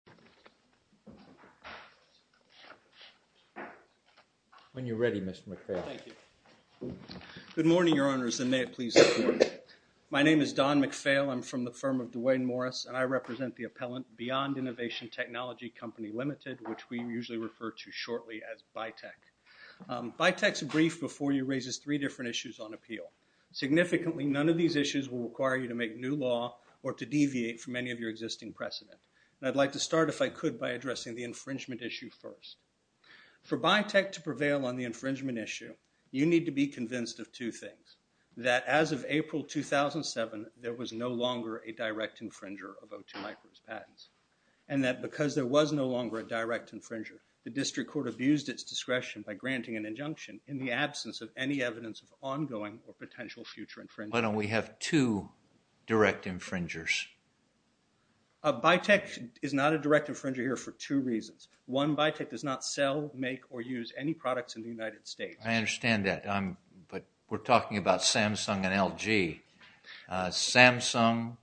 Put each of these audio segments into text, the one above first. DWAYNE MORRIS Good morning, Your Honors, and may it please be good morning. My name is Don McPhail. I'm from the firm of Dwayne Morris, and I represent the appellant BEYOND INNOVATION TECHNOLOGY CO. LTD., which we usually refer to shortly as BITECH. BITECH's brief before you raises three different issues on appeal. Significantly, none of these issues will require you to make new law or to deviate from any of your existing precedent, and I'd like to start, if I could, by addressing the infringement issue first. For BITECH to prevail on the infringement issue, you need to be convinced of two things, that as of April 2007, there was no longer a direct infringer of O2 MICRO's patents, and that because there was no longer a direct infringer, the district court abused its discretion by granting an injunction in the absence of any evidence of ongoing or potential future infringement. Why don't we have two direct infringers? BITECH is not a direct infringer here for two reasons. One, BITECH does not sell, make, or use any products in the United States. I understand that, but we're talking about Samsung and LG. Samsung,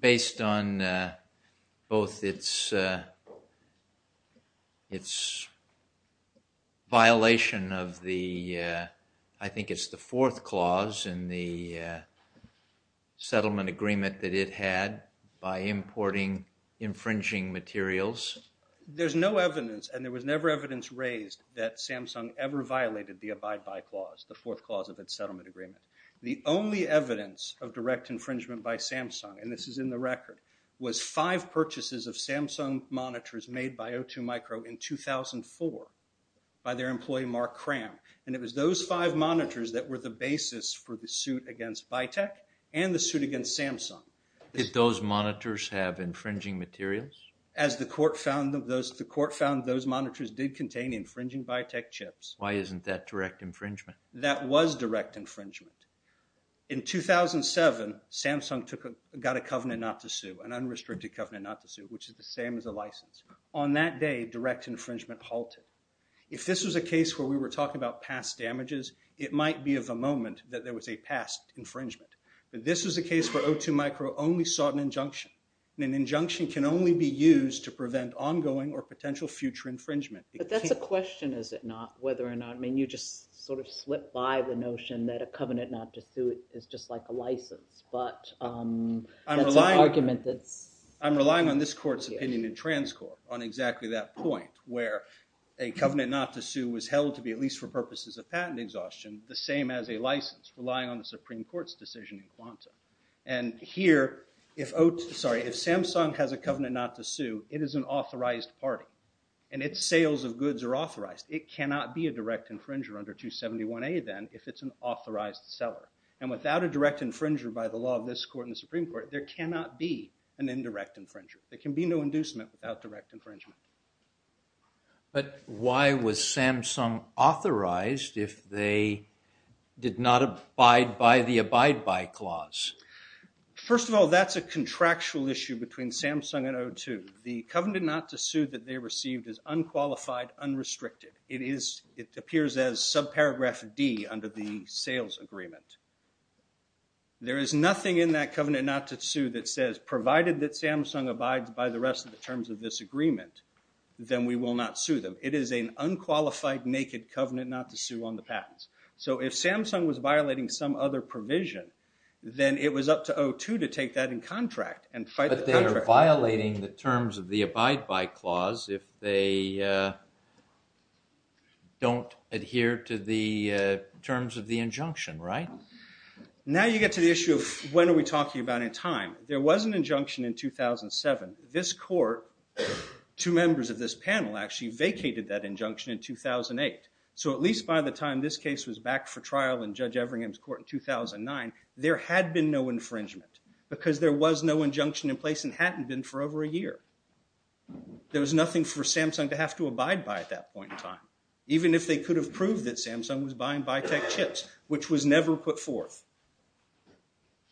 based on both its violation of the, I think it's the fourth clause in the settlement agreement that it had by importing infringing materials. There's no evidence, and there was never evidence raised, that Samsung ever violated the abide by clause, the fourth clause of its settlement agreement. The only evidence of direct infringement by Samsung, and this is in the record, was five purchases of Samsung monitors made by Samsung in 2004 by their employee Mark Cram, and it was those five monitors that were the basis for the suit against BITECH and the suit against Samsung. Did those monitors have infringing materials? As the court found, the court found those monitors did contain infringing BITECH chips. Why isn't that direct infringement? That was direct infringement. In 2007, Samsung took a, got a covenant not to sue, an unrestricted infringement halted. If this was a case where we were talking about past damages, it might be of the moment that there was a past infringement, but this was a case where O2 Micro only sought an injunction, and an injunction can only be used to prevent ongoing or potential future infringement. But that's a question, is it not, whether or not, I mean, you just sort of slipped by the notion that a covenant not to sue is just like a license, but that's an argument that's I'm relying on this court's opinion in trans court on exactly that point, where a covenant not to sue was held to be, at least for purposes of patent exhaustion, the same as a license, relying on the Supreme Court's decision in quanta. And here, if O2, sorry, if Samsung has a covenant not to sue, it is an authorized party. And its sales of goods are authorized. It cannot be a direct infringer under 271A then, if it's an authorized seller. And without a direct infringer by the law of this court and the Supreme Court, there cannot be an indirect infringer. There can be no inducement without direct infringement. But why was Samsung authorized if they did not abide by the abide by clause? First of all, that's a contractual issue between Samsung and O2. The covenant not to sue that they received is unqualified, unrestricted. It is, it appears as subparagraph D under the sales agreement. There is nothing in that covenant not to sue that says, provided that Samsung abides by the rest of the terms of this agreement, then we will not sue them. It is an unqualified, naked covenant not to sue on the patents. So if Samsung was violating some other provision, then it was up to O2 to take that in contract and fight the contract. But they are violating the terms of the abide by clause if they don't adhere to the terms of the injunction, right? Now you get to the issue of when are we talking about in time. There was an injunction in 2007. This court, two members of this panel actually vacated that injunction in 2008. So at least by the time this case was back for trial in Judge Everingham's court in 2009, there had been no infringement because there was no injunction in place and hadn't been for over a year. There was nothing for Samsung to have to abide by at that point in time, even if they could have proved that Samsung was buying bi-tech chips, which was never put forth.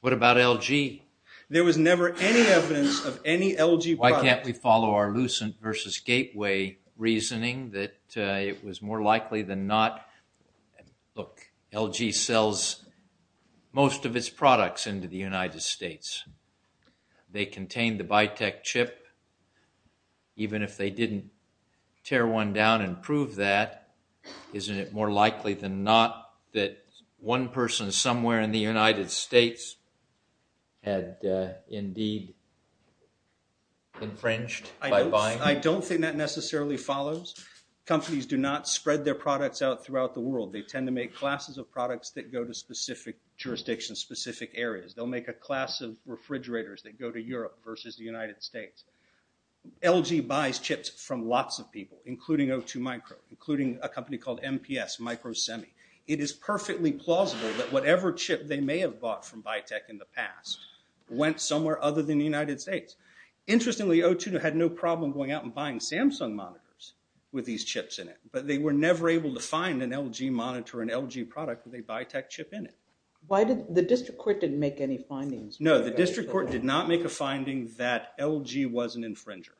What about LG? There was never any evidence of any LG product. Why can't we follow our Lucent versus Gateway reasoning that it was more likely than not? Look, LG sells most of its products into the United States. They contain the bi-tech chip. Even if they didn't tear one down and prove that, isn't it more likely than not that one person somewhere in the United States had indeed infringed by buying? I don't think that necessarily follows. Companies do not spread their products out throughout the world. They tend to make classes of products that go to specific jurisdictions, specific areas. They'll make a class of refrigerators that go to Europe versus the United States. LG buys chips from lots of people, including O2 Micro, including a company called MPS, Micro Semi. It is perfectly plausible that whatever chip they may have bought from bi-tech in the past went somewhere other than the United States. Interestingly, O2 had no problem going out and buying Samsung monitors with these chips in it, but they were never able to find an LG monitor, an LG product with a bi-tech chip in it. The district court didn't make any findings. No, the district court did not make a finding that LG was an infringer.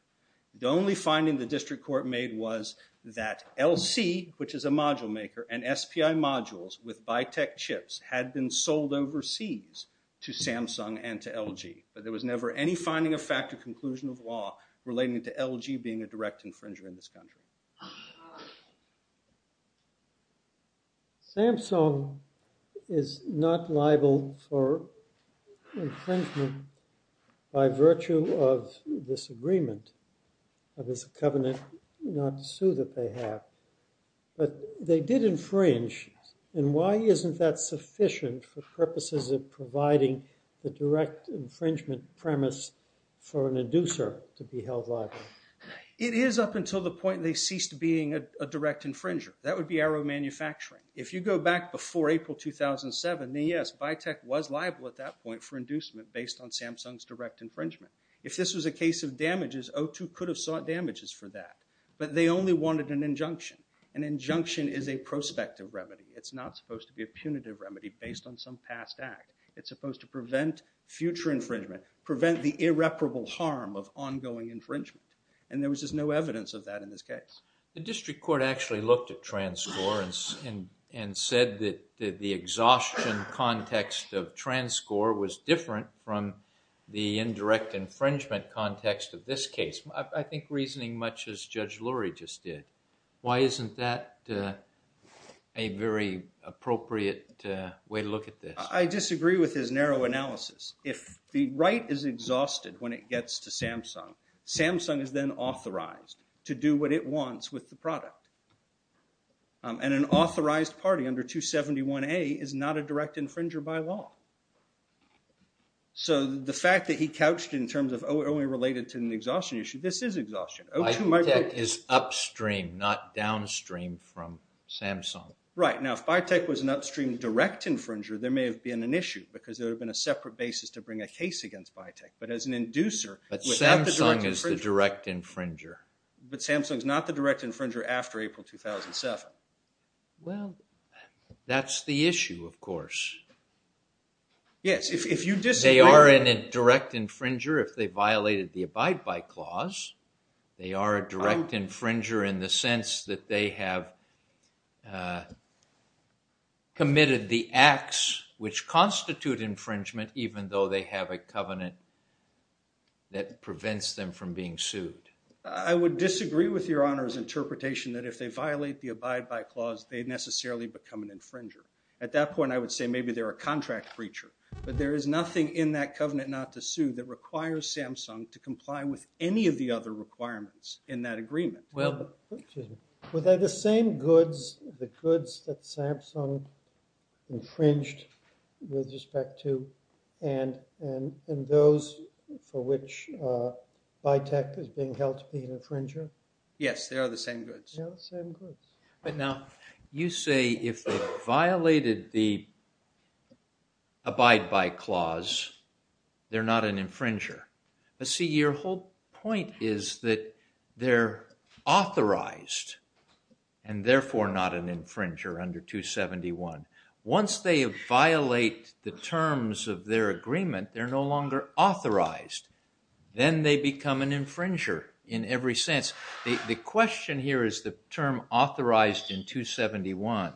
The only finding the district court made was that LC, which is a module maker, and SPI modules with bi-tech chips had been sold overseas to Samsung and to LG, but there was never any finding of fact or conclusion of law relating to LG being a direct infringer in this country. Samsung is not liable for infringement by virtue of this agreement, of this covenant not to sue that they have, but they did infringe, and why isn't that sufficient for purposes of providing the direct infringement premise for an inducer to be held liable? It is up until the point they ceased being a direct infringer. That would be Arrow Manufacturing. If you go back before April 2007, then yes, bi-tech was liable at that point for inducement based on Samsung's direct infringement. If this was a case of damages, O2 could have sought damages for that, but they only wanted an injunction. An injunction is a prospective remedy. It's not supposed to be a punitive remedy based on some past act. It's supposed to prevent future infringement, prevent the irreparable harm of ongoing infringement, and there was just no evidence of that in this case. The district court actually looked at transcore and said that the exhaustion context of transcore was different from the indirect infringement context of this case. I think reasoning much as Judge Lurie just did. Why isn't that a very appropriate way to look at this? I disagree with his narrow analysis. If the right is exhausted when it gets to Samsung, Samsung is then authorized to do what it wants with the product. An authorized party under 271A is not a direct infringer by law. The fact that he couched in terms of only related to an exhaustion issue, this is exhaustion. Bi-tech is upstream, not downstream from Samsung. Right. Now, if Bi-tech was an upstream direct infringer, there may have been an issue because there would have been a separate basis to bring a case against Bi-tech, but as an inducer... But Samsung is the direct infringer. But Samsung is not the direct infringer after April 2007. Well, that's the issue, of course. Yes. If you disagree... They are a direct infringer if they violated the abide by clause. They are a direct infringer in the sense that they have committed the acts which constitute infringement even though they have a covenant that prevents them from being sued. I would disagree with your Honor's interpretation that if they violate the abide by clause, they necessarily become an infringer. At that point, I would say maybe they're a contract breacher, but there is nothing in in that agreement. Well... Excuse me. Were they the same goods, the goods that Samsung infringed with respect to, and those for which Bi-tech is being held to be an infringer? Yes, they are the same goods. They are the same goods. But now, you say if they violated the abide by clause, they're not an infringer. See, your whole point is that they're authorized and therefore not an infringer under 271. Once they violate the terms of their agreement, they're no longer authorized. Then they become an infringer in every sense. The question here is the term authorized in 271,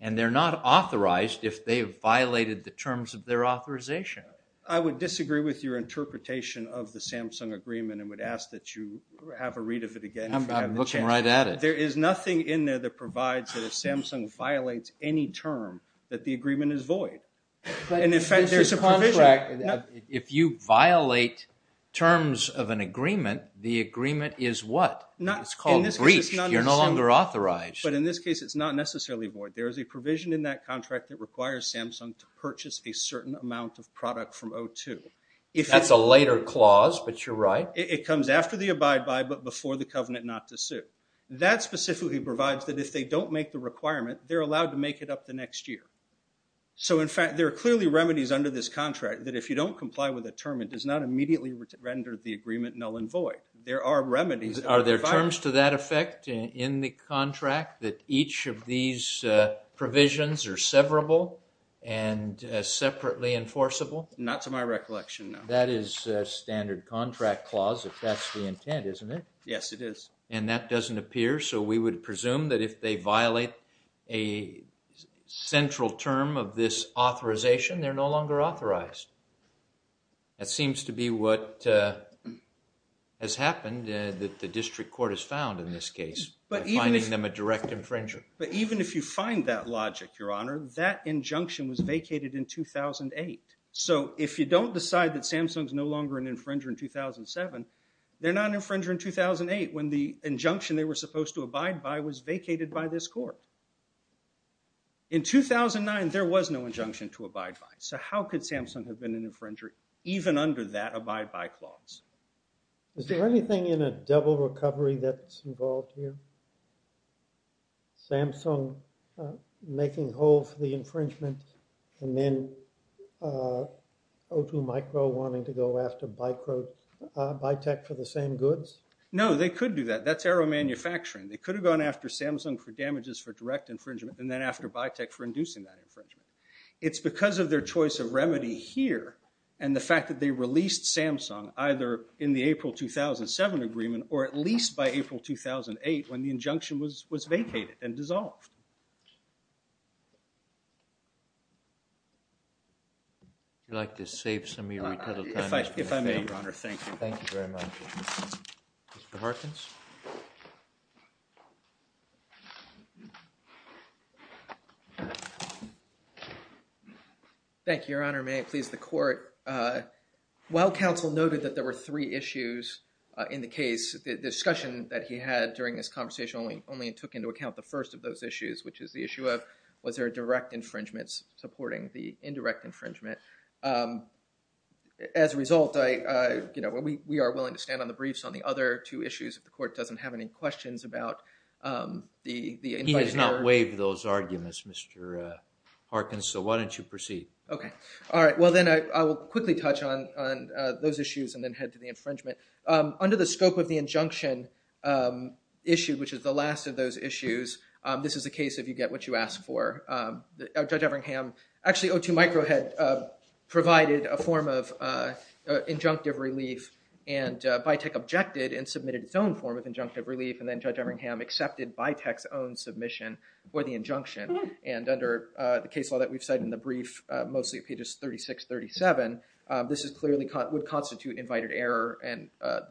and they're not authorized if they violated the terms of their authorization. I would disagree with your interpretation of the Samsung agreement and would ask that you have a read of it again if you have the chance. I'm looking right at it. There is nothing in there that provides that if Samsung violates any term, that the agreement is void. In effect, there's a provision. If you violate terms of an agreement, the agreement is what? It's called breached. You're no longer authorized. But in this case, it's not necessarily void. There is a provision in that contract that requires Samsung to purchase a certain amount of product from O2. That's a later clause, but you're right. It comes after the abide by, but before the covenant not to sue. That specifically provides that if they don't make the requirement, they're allowed to make it up the next year. In fact, there are clearly remedies under this contract that if you don't comply with a term, it does not immediately render the agreement null and void. There are remedies. Are there terms to that effect in the contract that each of these provisions are severable and separately enforceable? Not to my recollection, no. That is a standard contract clause if that's the intent, isn't it? Yes, it is. And that doesn't appear, so we would presume that if they violate a central term of this authorization, they're no longer authorized. That seems to be what has happened that the district court has found in this case, finding them a direct infringer. But even if you find that logic, Your Honor, that injunction was vacated in 2008. So if you don't decide that Samsung's no longer an infringer in 2007, they're not an infringer in 2008 when the injunction they were supposed to abide by was vacated by this court. In 2009, there was no injunction to abide by, so how could Samsung have been an infringer even under that abide by clause? Is there anything in a double recovery that's involved here? Samsung making a hole for the infringement and then O2 Micro wanting to go after Bitex for the same goods? No, they could do that. That's error manufacturing. They could have gone after Samsung for damages for direct infringement and then after Bitex for inducing that infringement. It's because of their choice of remedy here and the fact that they released Samsung either in the April 2007 agreement or at least by April 2008 when the injunction was vacated and dissolved. If you'd like to save some of your retail time, Mr. McPhail. If I may, Your Honor, thank you. Thank you very much. Mr. Harkins? Thank you, Your Honor. May it please the court. While counsel noted that there were three issues in the case, the discussion that he had during this conversation only took into account the first of those issues, which is the issue of was there a direct infringement supporting the indirect infringement. As a result, we are willing to stand on the briefs on the other two issues if the court doesn't have any questions about the invoice error. He has not waived those arguments, Mr. Harkins, so why don't you proceed? Okay. All right. Well, then I will quickly touch on those issues and then head to the infringement. Under the scope of the injunction issue, which is the last of those issues, this is the case if you get what you ask for. Judge Everingham, actually O2 Micro had provided a form of injunctive relief and Vitek objected and submitted its own form of injunctive relief and then Judge Everingham accepted Vitek's own submission for the injunction. And under the case law that we've cited in the brief, mostly pages 36, 37, this clearly would constitute invited error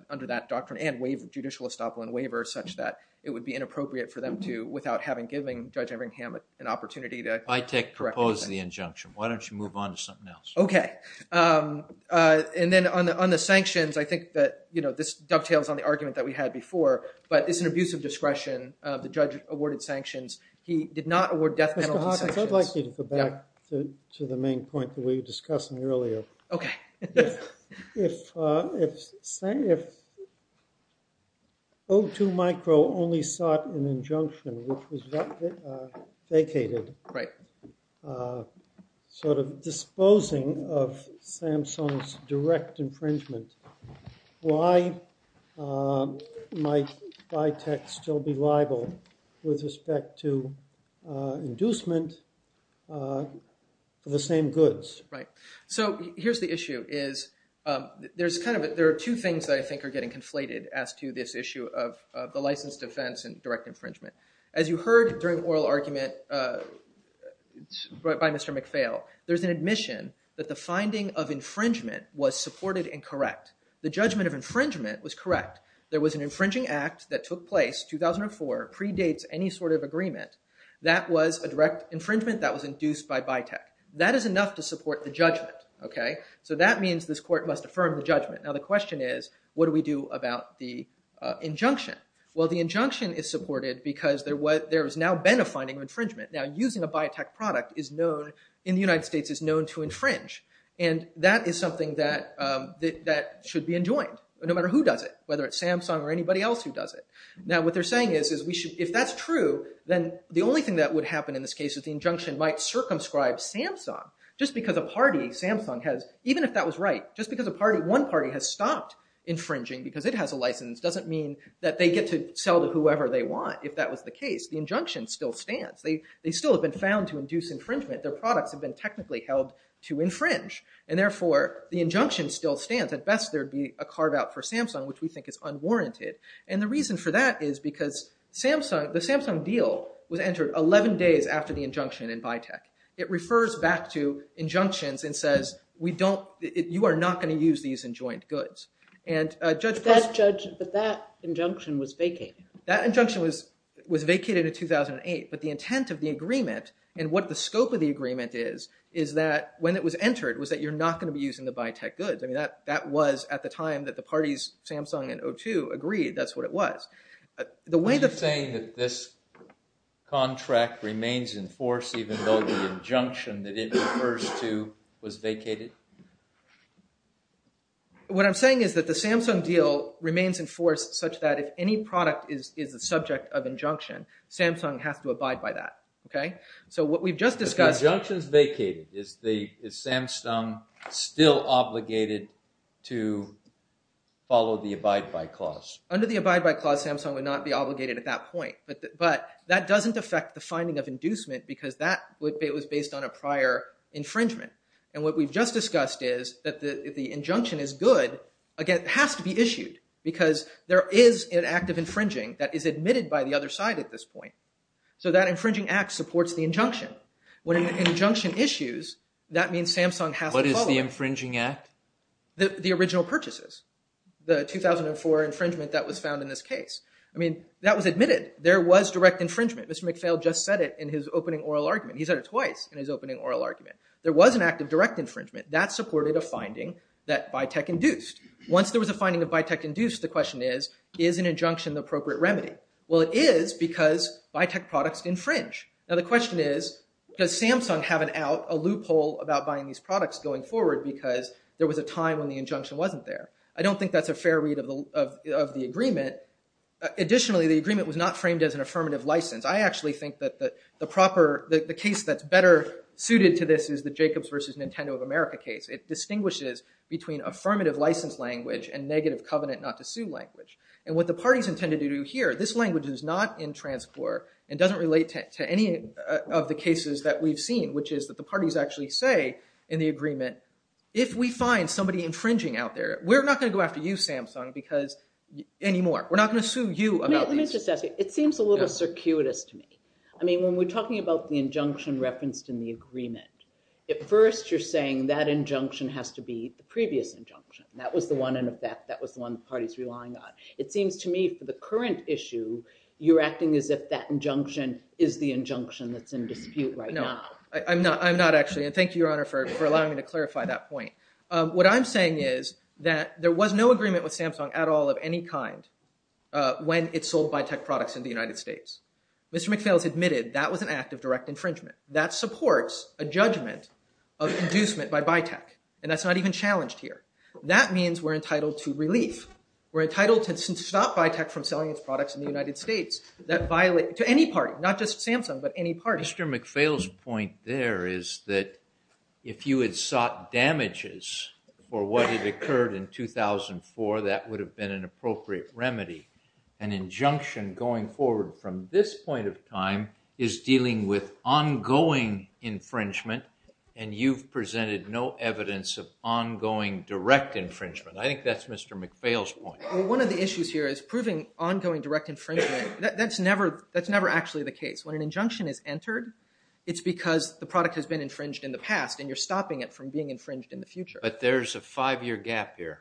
under that doctrine and judicial estoppel and waiver such that it would be inappropriate for them to, without having given Judge Everingham an opportunity to correct anything. Vitek proposed the injunction. Why don't you move on to something else? Okay. And then on the sanctions, I think that this dovetails on the argument that we had before, but it's an abuse of discretion. The judge awarded sanctions. He did not award death penalty sanctions. Mr. Harkins, I'd like you to go back to the main point that we were discussing earlier. Okay. If O2 Micro only sought an injunction, which was vacated, sort of disposing of Samsung's direct infringement, why might Vitek still be liable with respect to inducement for the same goods? Right. So here's the issue is, there are two things that I think are getting conflated as to this issue of the license defense and direct infringement. As you heard during the oral argument by Mr. McPhail, there's an admission that the finding of infringement was supported and correct. The judgment of infringement was correct. There was an infringing act that took place 2004, predates any sort of agreement. That was a direct infringement that was induced by Vitek. That is enough to support the judgment. So that means this court must affirm the judgment. Now the question is, what do we do about the injunction? Well the injunction is supported because there has now been a finding of infringement. Now using a Vitek product in the United States is known to infringe. And that is something that should be enjoined, no matter who does it, whether it's Samsung or anybody else who does it. Now what they're saying is, if that's true, then the only thing that would happen in this case is the injunction might circumscribe Samsung. Just because a party, Samsung has, even if that was right, just because one party has stopped infringing because it has a license doesn't mean that they get to sell to whoever they want. If that was the case, the injunction still stands. They still have been found to induce infringement. Their products have been technically held to infringe. And therefore, the injunction still stands. At best there would be a carve out for Samsung, which we think is unwarranted. And the reason for that is because the Samsung deal was entered 11 days after the injunction in Vitek. It refers back to injunctions and says, you are not going to use these enjoined goods. But that injunction was vacated. That injunction was vacated in 2008, but the intent of the agreement and what the scope of the agreement is, is that when it was entered, was that you're not going to be using the Vitek goods. That was at the time that the parties, Samsung and O2, agreed. That's what it was. Are you saying that this contract remains in force even though the injunction that it refers to was vacated? What I'm saying is that the Samsung deal remains in force such that if any product is the subject of injunction, Samsung has to abide by that. So what we've just discussed- But the injunction is vacated. Is Samsung still obligated to follow the abide by clause? Under the abide by clause, Samsung would not be obligated at that point. But that doesn't affect the finding of inducement because that was based on a prior infringement. And what we've just discussed is that if the injunction is good, again, it has to be issued because there is an act of infringing that is admitted by the other side at this point. So that infringing act supports the injunction. When an injunction issues, that means Samsung has to follow it. What is the infringing act? The original purchases. The 2004 infringement that was found in this case. That was admitted. There was direct infringement. Mr. McPhail just said it in his opening oral argument. He said it twice in his opening oral argument. There was an act of direct infringement. That supported a finding that Vitek induced. Once there was a finding that Vitek induced, the question is, is an injunction the appropriate remedy? Well, it is because Vitek products infringe. Now, the question is, does Samsung have a loophole about buying these products going forward because there was a time when the injunction wasn't there? I don't think that's a fair read of the agreement. Additionally, the agreement was not framed as an affirmative license. I actually think that the case that's better suited to this is the Jacobs versus Nintendo of America case. It distinguishes between affirmative license language and negative covenant not to sue language. And what the parties intended to do here, this language is not in transcore and doesn't relate to any of the cases that we've seen, which is that the parties actually say in the agreement, if we find somebody infringing out there, we're not going to go after you, Samsung, because anymore. We're not going to sue you about these. Let me just ask you. It seems a little circuitous to me. I mean, when we're talking about the injunction referenced in the agreement, at first you're saying that injunction has to be the previous injunction. That was the one in effect. That was the one the party's relying on. It seems to me, for the current issue, you're acting as if that injunction is the injunction that's in dispute right now. I'm not, actually. And thank you, Your Honor, for allowing me to clarify that point. What I'm saying is that there was no agreement with Samsung at all of any kind when it sold bi-tech products in the United States. Mr. McPhail has admitted that was an act of direct infringement. That supports a judgment of inducement by bi-tech. And that's not even challenged here. That means we're entitled to relief. We're entitled to stop bi-tech from selling its products in the United States. That violates, to any party, not just Samsung, but any party. Mr. McPhail's point there is that if you had sought damages for what had occurred in 2004, that would have been an appropriate remedy. An injunction going forward from this point of time is dealing with ongoing infringement, and you've presented no evidence of ongoing direct infringement. I think that's Mr. McPhail's point. One of the issues here is proving ongoing direct infringement. That's never actually the case. When an injunction is entered, it's because the product has been infringed in the past, and you're stopping it from being infringed in the future. But there's a five-year gap here.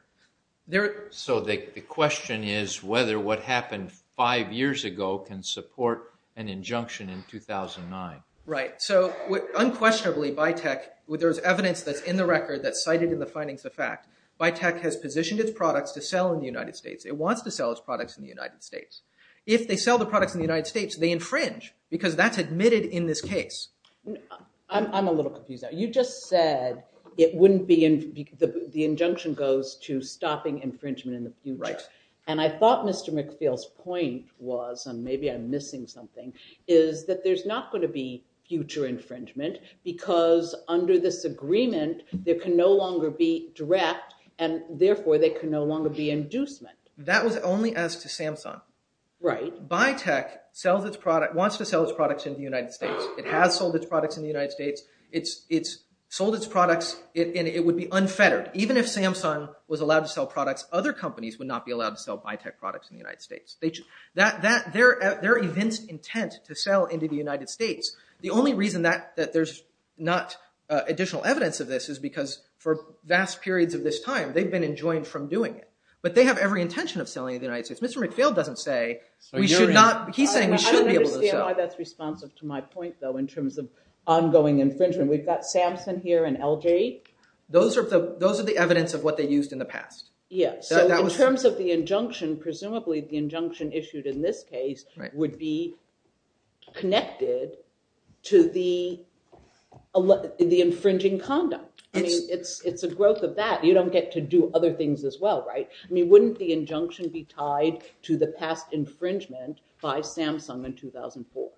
So the question is whether what happened five years ago can support an injunction in 2009. Right. So unquestionably, bi-tech, there's evidence that's in the record that's cited in the findings of fact. Bi-tech has positioned its products to sell in the United States. It wants to sell its products in the United States. If they sell the products in the United States, they infringe, because that's admitted in this case. I'm a little confused now. You just said it wouldn't be, the injunction goes to stopping infringement in the future. Right. And I thought Mr. McPhail's point was, and maybe I'm missing something, is that there's not going to be future infringement, because under this agreement, there can no longer be direct, and therefore, there can no longer be inducement. That was only as to Samsung. Right. Bi-tech sells its product, wants to sell its products in the United States. It has sold its products in the United States. It's sold its products, and it would be unfettered. Even if Samsung was allowed to sell products, other companies would not be allowed to sell bi-tech products in the United States. Their evinced intent to sell into the United States, the only reason that there's not additional evidence of this is because for vast periods of this time, they've been enjoined from doing it. But they have every intention of selling in the United States. Mr. McPhail doesn't say, we should not, he's saying we should be able to sell. I don't understand why that's responsive to my point, though, in terms of ongoing infringement. We've got Samsung here and LJ. Those are the evidence of what they used in the past. Yes. So in terms of the injunction, presumably, the injunction issued in this case would be connected to the infringing condom. It's a growth of that. You don't get to do other things as well, right? I mean, wouldn't the injunction be tied to the past infringement by Samsung in 2004?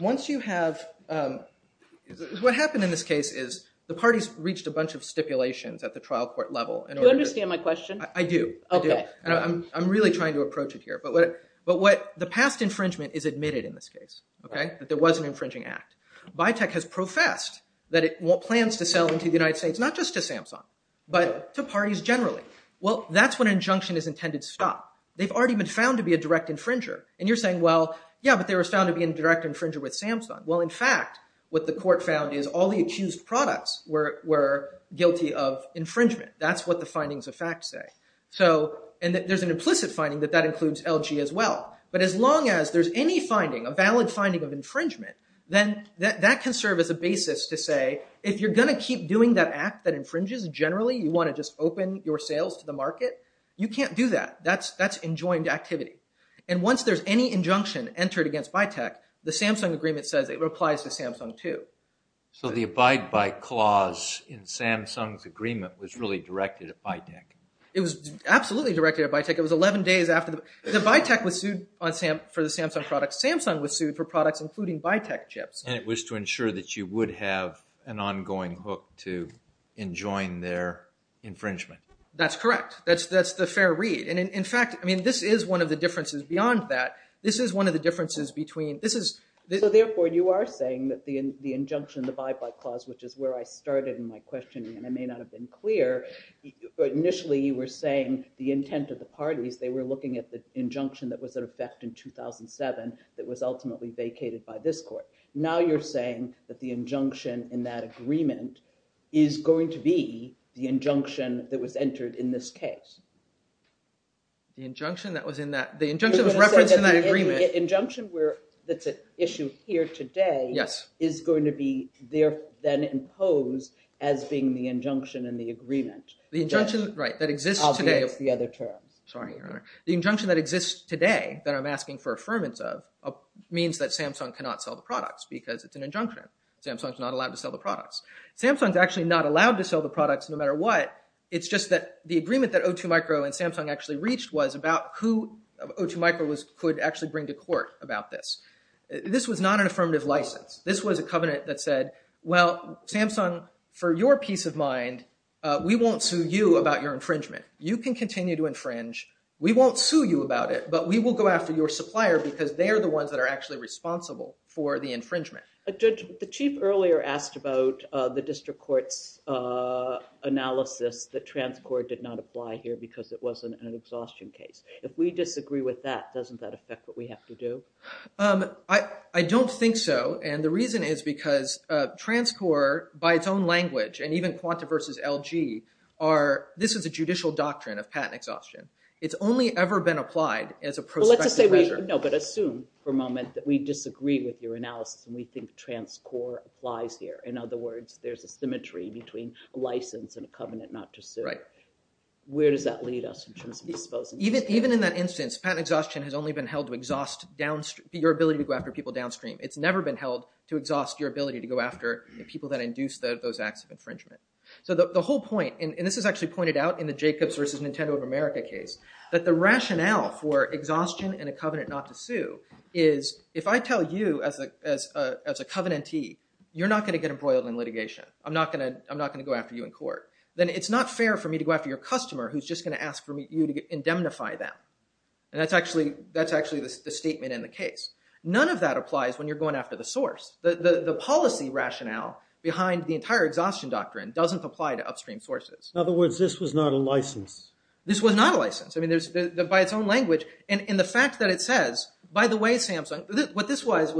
Once you have, what happened in this case is the parties reached a bunch of stipulations at the trial court level. Do you understand my question? I do. I do. I'm really trying to approach it here. But what the past infringement is admitted in this case, that there was an infringing act. Biotech has professed that it plans to sell into the United States, not just to Samsung, but to parties generally. Well, that's when an injunction is intended to stop. They've already been found to be a direct infringer. And you're saying, well, yeah, but they were found to be a direct infringer with Samsung. Well, in fact, what the court found is all the accused products were guilty of infringement. That's what the findings of fact say. So, and there's an implicit finding that that includes LG as well. But as long as there's any finding, a valid finding of infringement, then that can serve as a basis to say, if you're going to keep doing that act that infringes generally, you want to just open your sales to the market, you can't do that. That's enjoined activity. And once there's any injunction entered against Biotech, the Samsung agreement says it applies to Samsung too. So the abide by clause in Samsung's agreement was really directed at Biotech? It was absolutely directed at Biotech. It was 11 days after the, the Biotech was sued for the Samsung products. Samsung was sued for products including Biotech chips. And it was to ensure that you would have an ongoing hook to enjoin their infringement? That's correct. That's the fair read. And in fact, I mean, this is one of the differences beyond that. This is one of the differences between, this is. So therefore, you are saying that the injunction, the abide by clause, which is where I started in my questioning, and I may not have been clear, but initially you were saying the intent of the parties, they were looking at the injunction that was in effect in 2007 that was ultimately vacated by this court. Now you're saying that the injunction in that agreement is going to be the injunction that was entered in this case. The injunction that was in that, the injunction was referenced in that agreement. The injunction that's at issue here today is going to be there, then imposed as being the injunction in the agreement. The injunction, right, that exists today. The other terms. Sorry, Your Honor. The injunction that exists today that I'm asking for affirmance of means that Samsung cannot sell the products because it's an injunction. Samsung's not allowed to sell the products. Samsung's actually not allowed to sell the products no matter what. It's just that the agreement that O2 Micro and Samsung actually reached was about who O2 Micro could actually bring to court about this. This was not an affirmative license. This was a covenant that said, well, Samsung, for your peace of mind, we won't sue you about your infringement. You can continue to infringe. We won't sue you about it, but we will go after your supplier because they are the ones that are actually responsible for the infringement. The chief earlier asked about the district court's analysis that TransCorp did not apply here because it wasn't an exhaustion case. If we disagree with that, doesn't that affect what we have to do? I don't think so, and the reason is because TransCorp, by its own language, and even Quanta versus LG, this is a judicial doctrine of patent exhaustion. It's only ever been applied as a prospective measure. Well, let's just say, no, but assume for a moment that we disagree with your analysis and we think TransCorp applies here. In other words, there's a symmetry between a license and a covenant not to sue. Where does that lead us in terms of disposing? Even in that instance, patent exhaustion has only been held to exhaust your ability to go after people downstream. It's never been held to exhaust your ability to go after the people that induced those acts of infringement. So, the whole point, and this is actually pointed out in the Jacobs versus Nintendo of America case, that the rationale for exhaustion and a covenant not to sue is, if I tell you as a covenantee, you're not going to get embroiled in litigation, I'm not going to go after you in court, then it's not fair for me to go after your customer who's just going to ask for you to indemnify them. And that's actually the statement in the case. None of that applies when you're going after the source. The policy rationale behind the entire exhaustion doctrine doesn't apply to upstream sources. In other words, this was not a license. This was not a license. I mean, by its own language, and the fact that it says, by the way, Samsung, what this was,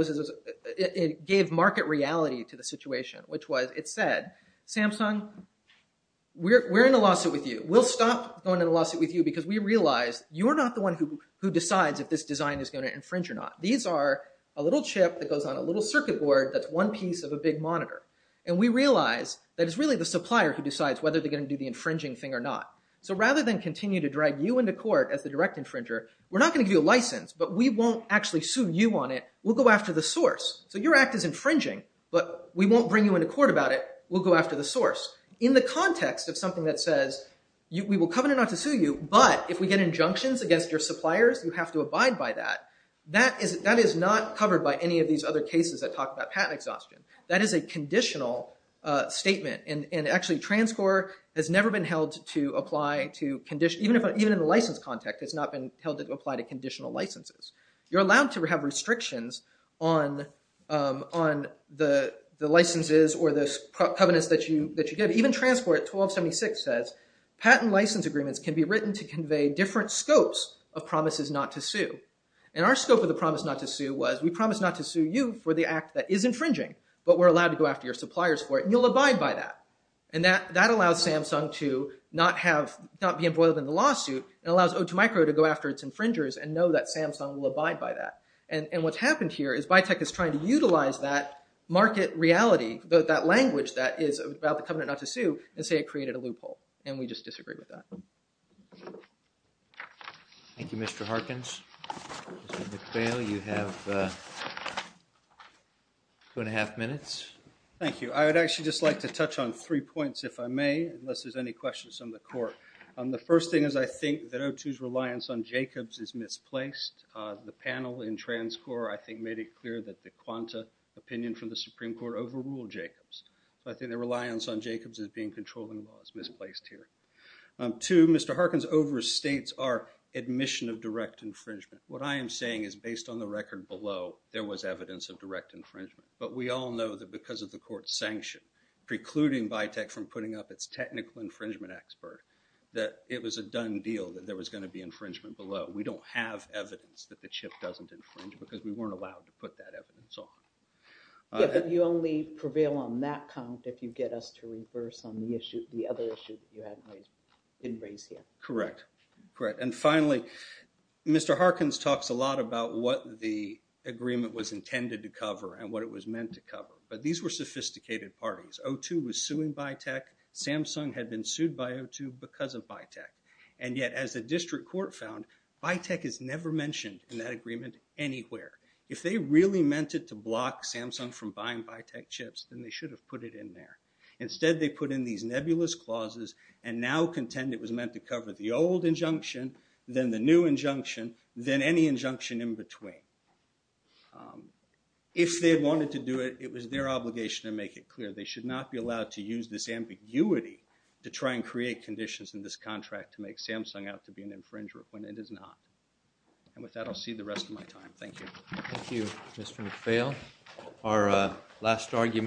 it gave market reality to the situation, which was, it said, Samsung, we're in a lawsuit with you. We'll stop going in a lawsuit with you because we realize you're not the one who decides if this design is going to infringe or not. These are a little chip that goes on a little circuit board that's one piece of a big monitor. And we realize that it's really the supplier who decides whether they're going to do the infringing thing or not. So rather than continue to drag you into court as the direct infringer, we're not going to give you a license, but we won't actually sue you on it. We'll go after the source. So your act is infringing, but we won't bring you into court about it. We'll go after the source. In the context of something that says, we will covenant not to sue you, but if we get injunctions against your suppliers, you have to abide by that, that is not covered by any of these other cases that talk about patent exhaustion. That is a conditional statement. And actually, transcore has never been held to apply to condition, even in the license context, it's not been held to apply to conditional licenses. You're allowed to have restrictions on the licenses or the covenants that you get. Even transcore at 1276 says, patent license agreements can be written to convey different scopes of promises not to sue. And our scope of the promise not to sue was, we promise not to sue you for the act that is infringing, but we're allowed to go after your suppliers for it, and you'll abide by that. And that allows Samsung to not be embroiled in the lawsuit, and allows Otomicro to go after its infringers and know that Samsung will abide by that. And what's happened here is Biotech is trying to utilize that market reality, that language that is about the covenant not to sue, and say it created a loophole, and we just disagree with that. Thank you, Mr. Harkins. Mr. McVail, you have two and a half minutes. Thank you. I would actually just like to touch on three points, if I may, unless there's any questions from the court. The first thing is, I think that O2's reliance on Jacobs is misplaced. The panel in transcore, I think, made it clear that the Quanta opinion from the Supreme Court overruled Jacobs. So I think their reliance on Jacobs as being controlling law is misplaced here. Two, Mr. Harkins overstates our admission of direct infringement. What I am saying is, based on the record below, there was evidence of direct infringement. But we all know that because of the court's sanction precluding Biotech from putting up its technical infringement expert, that it was a done deal that there was going to be infringement below. We don't have evidence that the chip doesn't infringe, because we weren't allowed to put that evidence on. Yeah, but you only prevail on that count if you get us to reverse on the issue, the other issue that you hadn't raised, didn't raise here. Correct. Correct. And finally, Mr. Harkins talks a lot about what the agreement was intended to cover and what it was meant to cover, but these were sophisticated parties. O2 was suing Biotech, Samsung had been sued by O2 because of Biotech. And yet, as the district court found, Biotech is never mentioned in that agreement anywhere. If they really meant it to block Samsung from buying Biotech chips, then they should have put it in there. Instead, they put in these nebulous clauses and now contend it was meant to cover the old injunction, then the new injunction, then any injunction in between. If they wanted to do it, it was their obligation to make it clear. They should not be allowed to use this ambiguity to try and create conditions in this contract to make Samsung out to be an infringer when it is not. And with that, I'll see the rest of my time. Thank you. Thank you, Mr. McPhail. Our last argument.